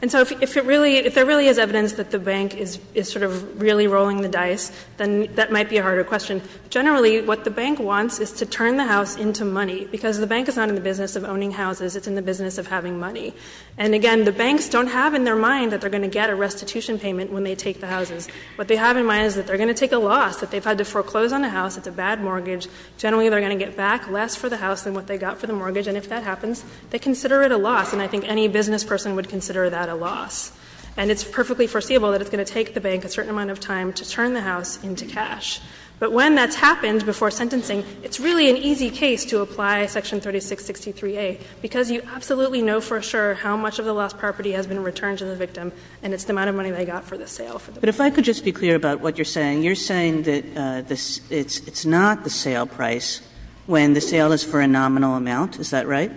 And so if it really, if there really is evidence that the bank is sort of really rolling the dice, then that might be a harder question. Generally, what the bank wants is to turn the house into money, because the bank is not in the business of owning houses. It's in the business of having money. And, again, the banks don't have in their mind that they're going to get a restitution payment when they take the houses. What they have in mind is that they're going to take a loss, that they've had to foreclose on the house, it's a bad mortgage. Generally, they're going to get back less for the house than what they got for the mortgage. And if that happens, they consider it a loss. And I think any business person would consider that a loss. And it's perfectly foreseeable that it's going to take the bank a certain amount of time to turn the house into cash. But when that's happened before sentencing, it's really an easy case to apply Section 3663a, because you absolutely know for sure how much of the lost property has been returned to the victim, and it's the amount of money they got for the sale. Kagan. But if I could just be clear about what you're saying, you're saying that it's not the sale price when the sale is for a nominal amount, is that right?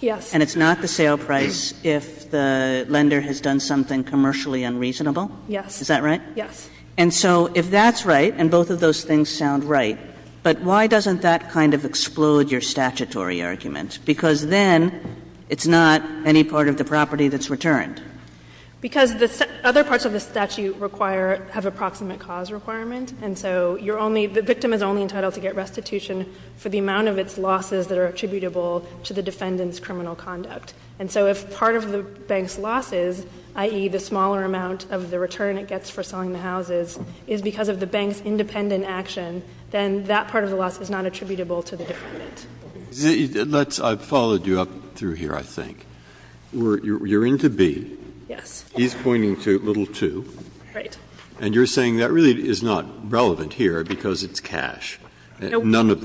Yes. And it's not the sale price if the lender has done something commercially unreasonable? Yes. Is that right? Yes. And so if that's right, and both of those things sound right, but why doesn't that kind of explode your statutory argument? Because then it's not any part of the property that's returned. Because the other parts of the statute require — have approximate cause requirement. And so you're only — the victim is only entitled to get restitution for the amount of its losses that are attributable to the defendant's criminal conduct. And so if part of the bank's losses, i.e., the smaller amount of the return it gets for selling the houses, is because of the bank's independent action, then that part of the loss is not attributable to the defendant. Let's — I've followed you up through here, I think. You're into B. Yes. He's pointing to little 2. Right. And you're saying that really is not relevant here because it's cash. None of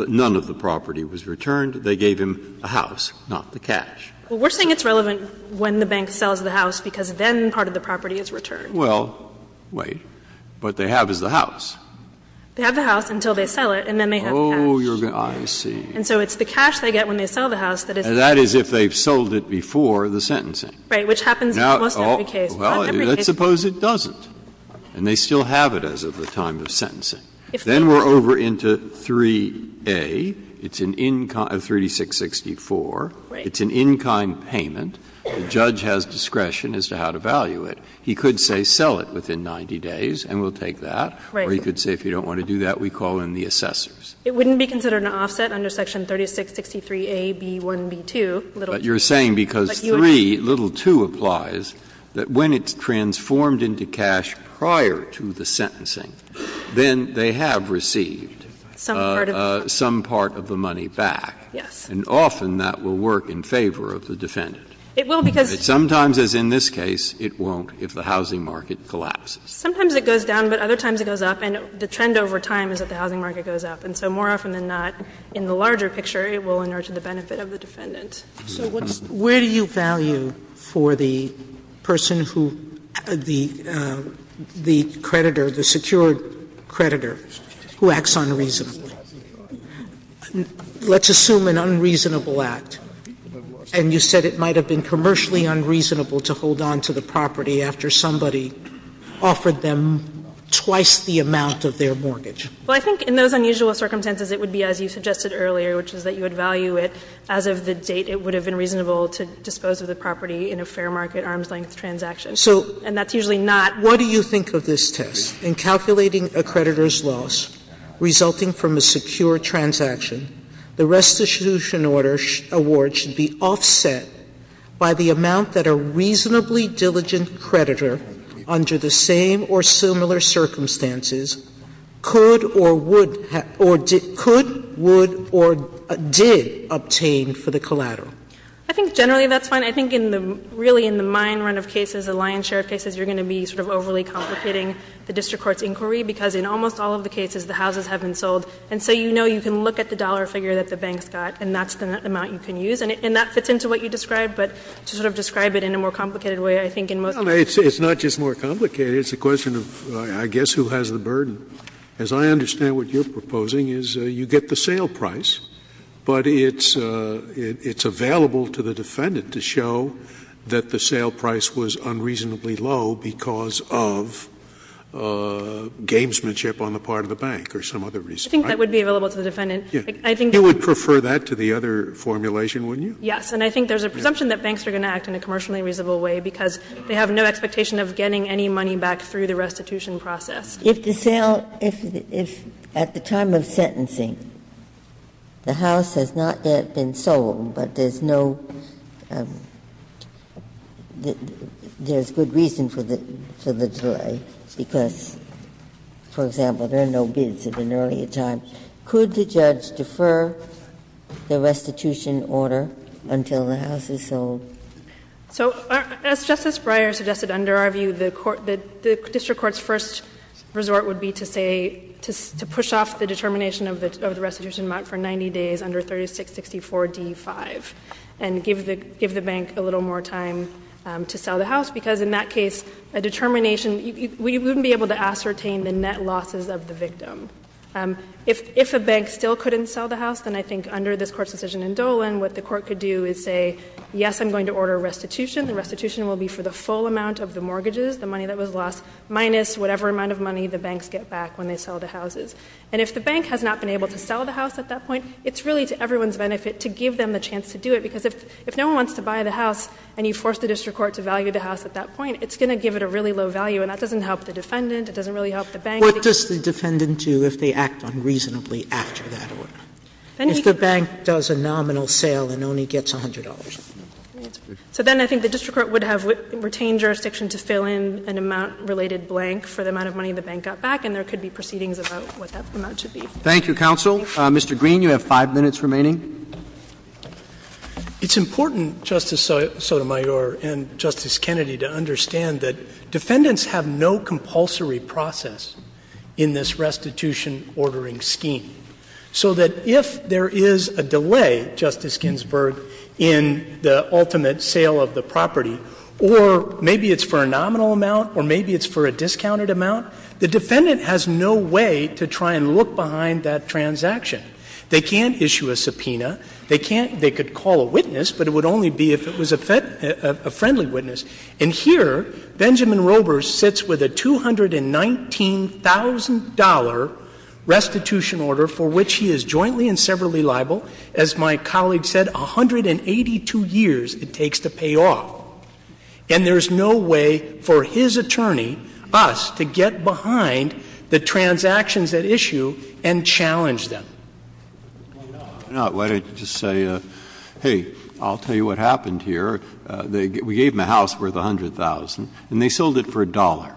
the property was returned. They gave him a house, not the cash. Well, we're saying it's relevant when the bank sells the house because then part of the property is returned. Well, wait. What they have is the house. They have the house until they sell it, and then they have the cash. Oh, you're going to — I see. And so it's the cash they get when they sell the house that is the case. And that is if they've sold it before the sentencing. Right. Which happens in almost every case. Well, let's suppose it doesn't. And they still have it as of the time of sentencing. Then we're over into 3A. It's an in-kind — 3664. Right. It's an in-kind payment. The judge has discretion as to how to value it. He could say sell it within 90 days, and we'll take that. Right. Or he could say if you don't want to do that, we call in the assessors. It wouldn't be considered an offset under section 3663A.B.1.B.2. But you're saying because 3, little 2 applies, that when it's transformed into cash prior to the sentencing, then they have received some part of the money back. Yes. And often that will work in favor of the defendant. It will because — Sometimes, as in this case, it won't if the housing market collapses. Sometimes it goes down, but other times it goes up. And the trend over time is that the housing market goes up. And so more often than not, in the larger picture, it will inert the benefit of the defendant. So what's — Where do you value for the person who — the creditor, the secured creditor who acts unreasonably? Let's assume an unreasonable act, and you said it might have been commercially unreasonable to hold on to the property after somebody offered them twice the amount of their mortgage. Well, I think in those unusual circumstances, it would be as you suggested earlier, which is that you would value it as of the date it would have been reasonable to dispose of the property in a fair market, arm's-length transaction. So — And that's usually not — What do you think of this test? In calculating a creditor's loss resulting from a secure transaction, the restitution order award should be offset by the amount that a reasonably diligent creditor under the same or similar circumstances could or would — or could, would, or did obtain for the collateral. I think generally that's fine. I think in the — really in the mine run of cases, the lion's share of cases, you're going to be sort of overly complicating the district court's inquiry, because in almost all of the cases, the houses have been sold. And so you know you can look at the dollar figure that the bank's got, and that's the amount you can use. And that fits into what you described, but to sort of describe it in a more complicated way, I think in most cases — It's not just more complicated. It's a question of, I guess, who has the burden. As I understand what you're proposing is you get the sale price, but it's — it's available to the defendant to show that the sale price was unreasonably low because of gamesmanship on the part of the bank or some other reason. Right? You think that would be available to the defendant? I think that would be available to the defendant. He would prefer that to the other formulation, wouldn't you? Yes. And I think there's a presumption that banks are going to act in a commercially reasonable way because they have no expectation of getting any money back through the restitution process. If the sale — if at the time of sentencing, the house has not yet been sold, but there's no — there's good reason for the delay, because, for example, there are no bids at an earlier time. Could the judge defer the restitution order until the house is sold? So as Justice Breyer suggested, under our view, the court — the district court's first resort would be to say — to push off the determination of the restitution amount for 90 days under 3664 D-5 and give the bank a little more time to sell the house, because in that case, a determination — we wouldn't be able to ascertain the net losses of the victim. If a bank still couldn't sell the house, then I think under this Court's decision in Dolan, what the court could do is say, yes, I'm going to order a restitution. The restitution will be for the full amount of the mortgages, the money that was lost, minus whatever amount of money the banks get back when they sell the houses. And if the bank has not been able to sell the house at that point, it's really to everyone's benefit to give them the chance to do it, because if no one wants to buy the house and you force the district court to value the house at that point, it's going to give it a really low value, and that doesn't help the defendant. It doesn't really help the bank. What does the defendant do if they act unreasonably after that order? If the bank does a nominal sale and only gets $100. So then I think the district court would have retained jurisdiction to fill in an amount-related blank for the amount of money the bank got back, and there could be proceedings about what that amount should be. Thank you, counsel. Mr. Green, you have five minutes remaining. The defendants have no compulsory process in this restitution ordering scheme. So that if there is a delay, Justice Ginsburg, in the ultimate sale of the property, or maybe it's for a nominal amount, or maybe it's for a discounted amount, the defendant has no way to try and look behind that transaction. They can't issue a subpoena. They can't ‑‑ they could call a witness, but it would only be if it was a friendly witness. And here, Benjamin Roeber sits with a $219,000 restitution order for which he is jointly and severally liable. As my colleague said, 182 years it takes to pay off. And there is no way for his attorney, us, to get behind the transactions at issue and challenge them. Why not? Why not? Why don't you just say, hey, I'll tell you what happened here. We gave them a house worth $100,000, and they sold it for $1.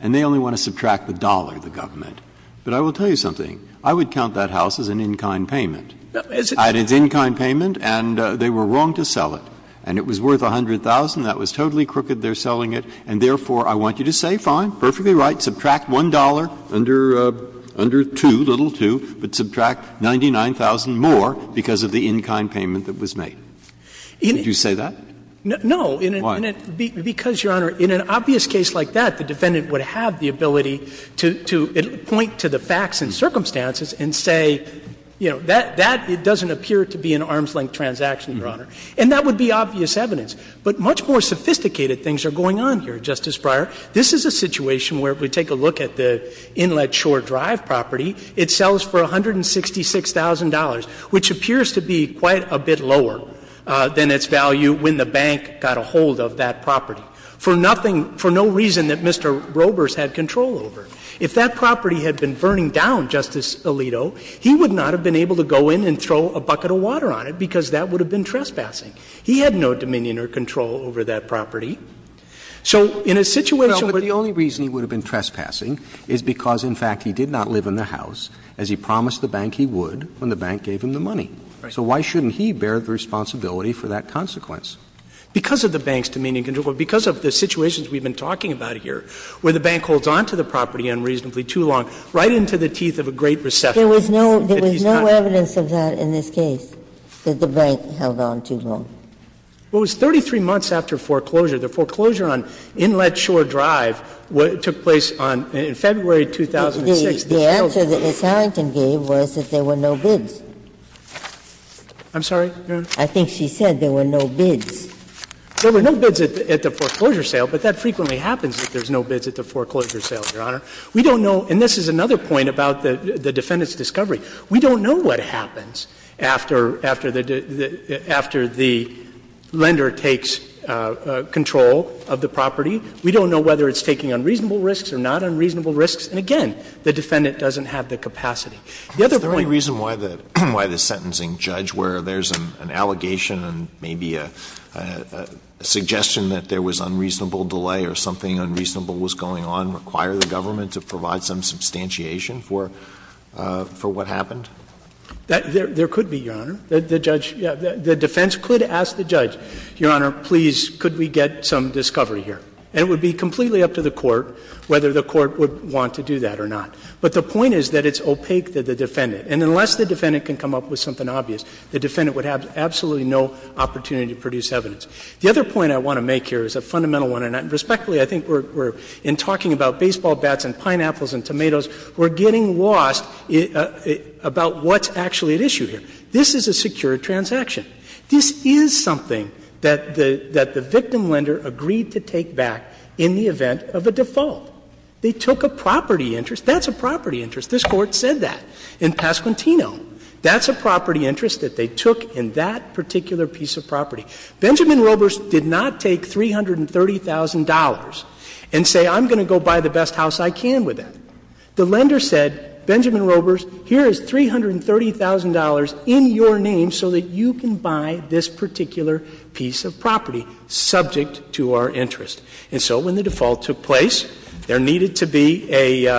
And they only want to subtract the dollar, the government. But I will tell you something. I would count that house as an in-kind payment. And it's in-kind payment, and they were wrong to sell it. And it was worth $100,000. That was totally crooked, their selling it. And therefore, I want you to say, fine, perfectly right, subtract $1, under 2, little 2, but subtract $99,000 more because of the in-kind payment that was made. Would you say that? No. Why? Because, Your Honor, in an obvious case like that, the defendant would have the ability to point to the facts and circumstances and say, you know, that doesn't appear to be an arm's-length transaction, Your Honor. And that would be obvious evidence. But much more sophisticated things are going on here, Justice Breyer. This is a situation where, if we take a look at the Inlet Shore Drive property, it sells for $166,000, which appears to be quite a bit lower than its value when the bank got a hold of that property, for nothing, for no reason that Mr. Roebers had control over. If that property had been burning down, Justice Alito, he would not have been able to go in and throw a bucket of water on it because that would have been trespassing. He had no dominion or control over that property. So in a situation where the only reason he would have been trespassing is because, in fact, he did not live in the house, as he promised the bank he would when the bank gave him the money. So why shouldn't he bear the responsibility for that consequence? Because of the bank's dominion and control, because of the situations we have been talking about here, where the bank holds on to the property unreasonably too long, right into the teeth of a Great Recession. There was no evidence of that in this case, that the bank held on too long. Well, it was 33 months after foreclosure. The foreclosure on Inlet Shore Drive took place in February 2006. The answer that Ms. Harrington gave was that there were no bids. I'm sorry, Your Honor? I think she said there were no bids. There were no bids at the foreclosure sale, but that frequently happens, that there's no bids at the foreclosure sale, Your Honor. We don't know, and this is another point about the defendant's discovery. We don't know what happens after the lender takes control of the property. We don't know whether it's taking unreasonable risks or not unreasonable risks. And again, the defendant doesn't have the capacity. The other point Is there any reason why the sentencing judge, where there's an allegation and maybe a suggestion that there was unreasonable delay or something unreasonable was going on, require the government to provide some substantiation for what happened? There could be, Your Honor. The judge, the defense could ask the judge, Your Honor, please, could we get some discovery here? And it would be completely up to the Court whether the Court would want to do that or not, but the point is that it's opaque to the defendant, and unless the defendant can come up with something obvious, the defendant would have absolutely no opportunity to produce evidence. The other point I want to make here is a fundamental one, and respectfully, I think we're, in talking about baseball bats and pineapples and tomatoes, we're getting lost about what's actually at issue here. This is a secure transaction. This is something that the victim lender agreed to take back in the event of a default. They took a property interest. That's a property interest. This Court said that in Pasquantino. That's a property interest that they took in that particular piece of property. Benjamin Robers did not take $330,000 and say, I'm going to go buy the best house I can with it. The lender said, Benjamin Robers, here is $330,000 in your name so that you can buy this particular piece of property subject to our interest. And so when the default took place, there needed to be a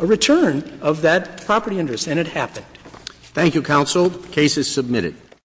return of that property interest, and it happened. Roberts. Thank you, counsel. The case is submitted.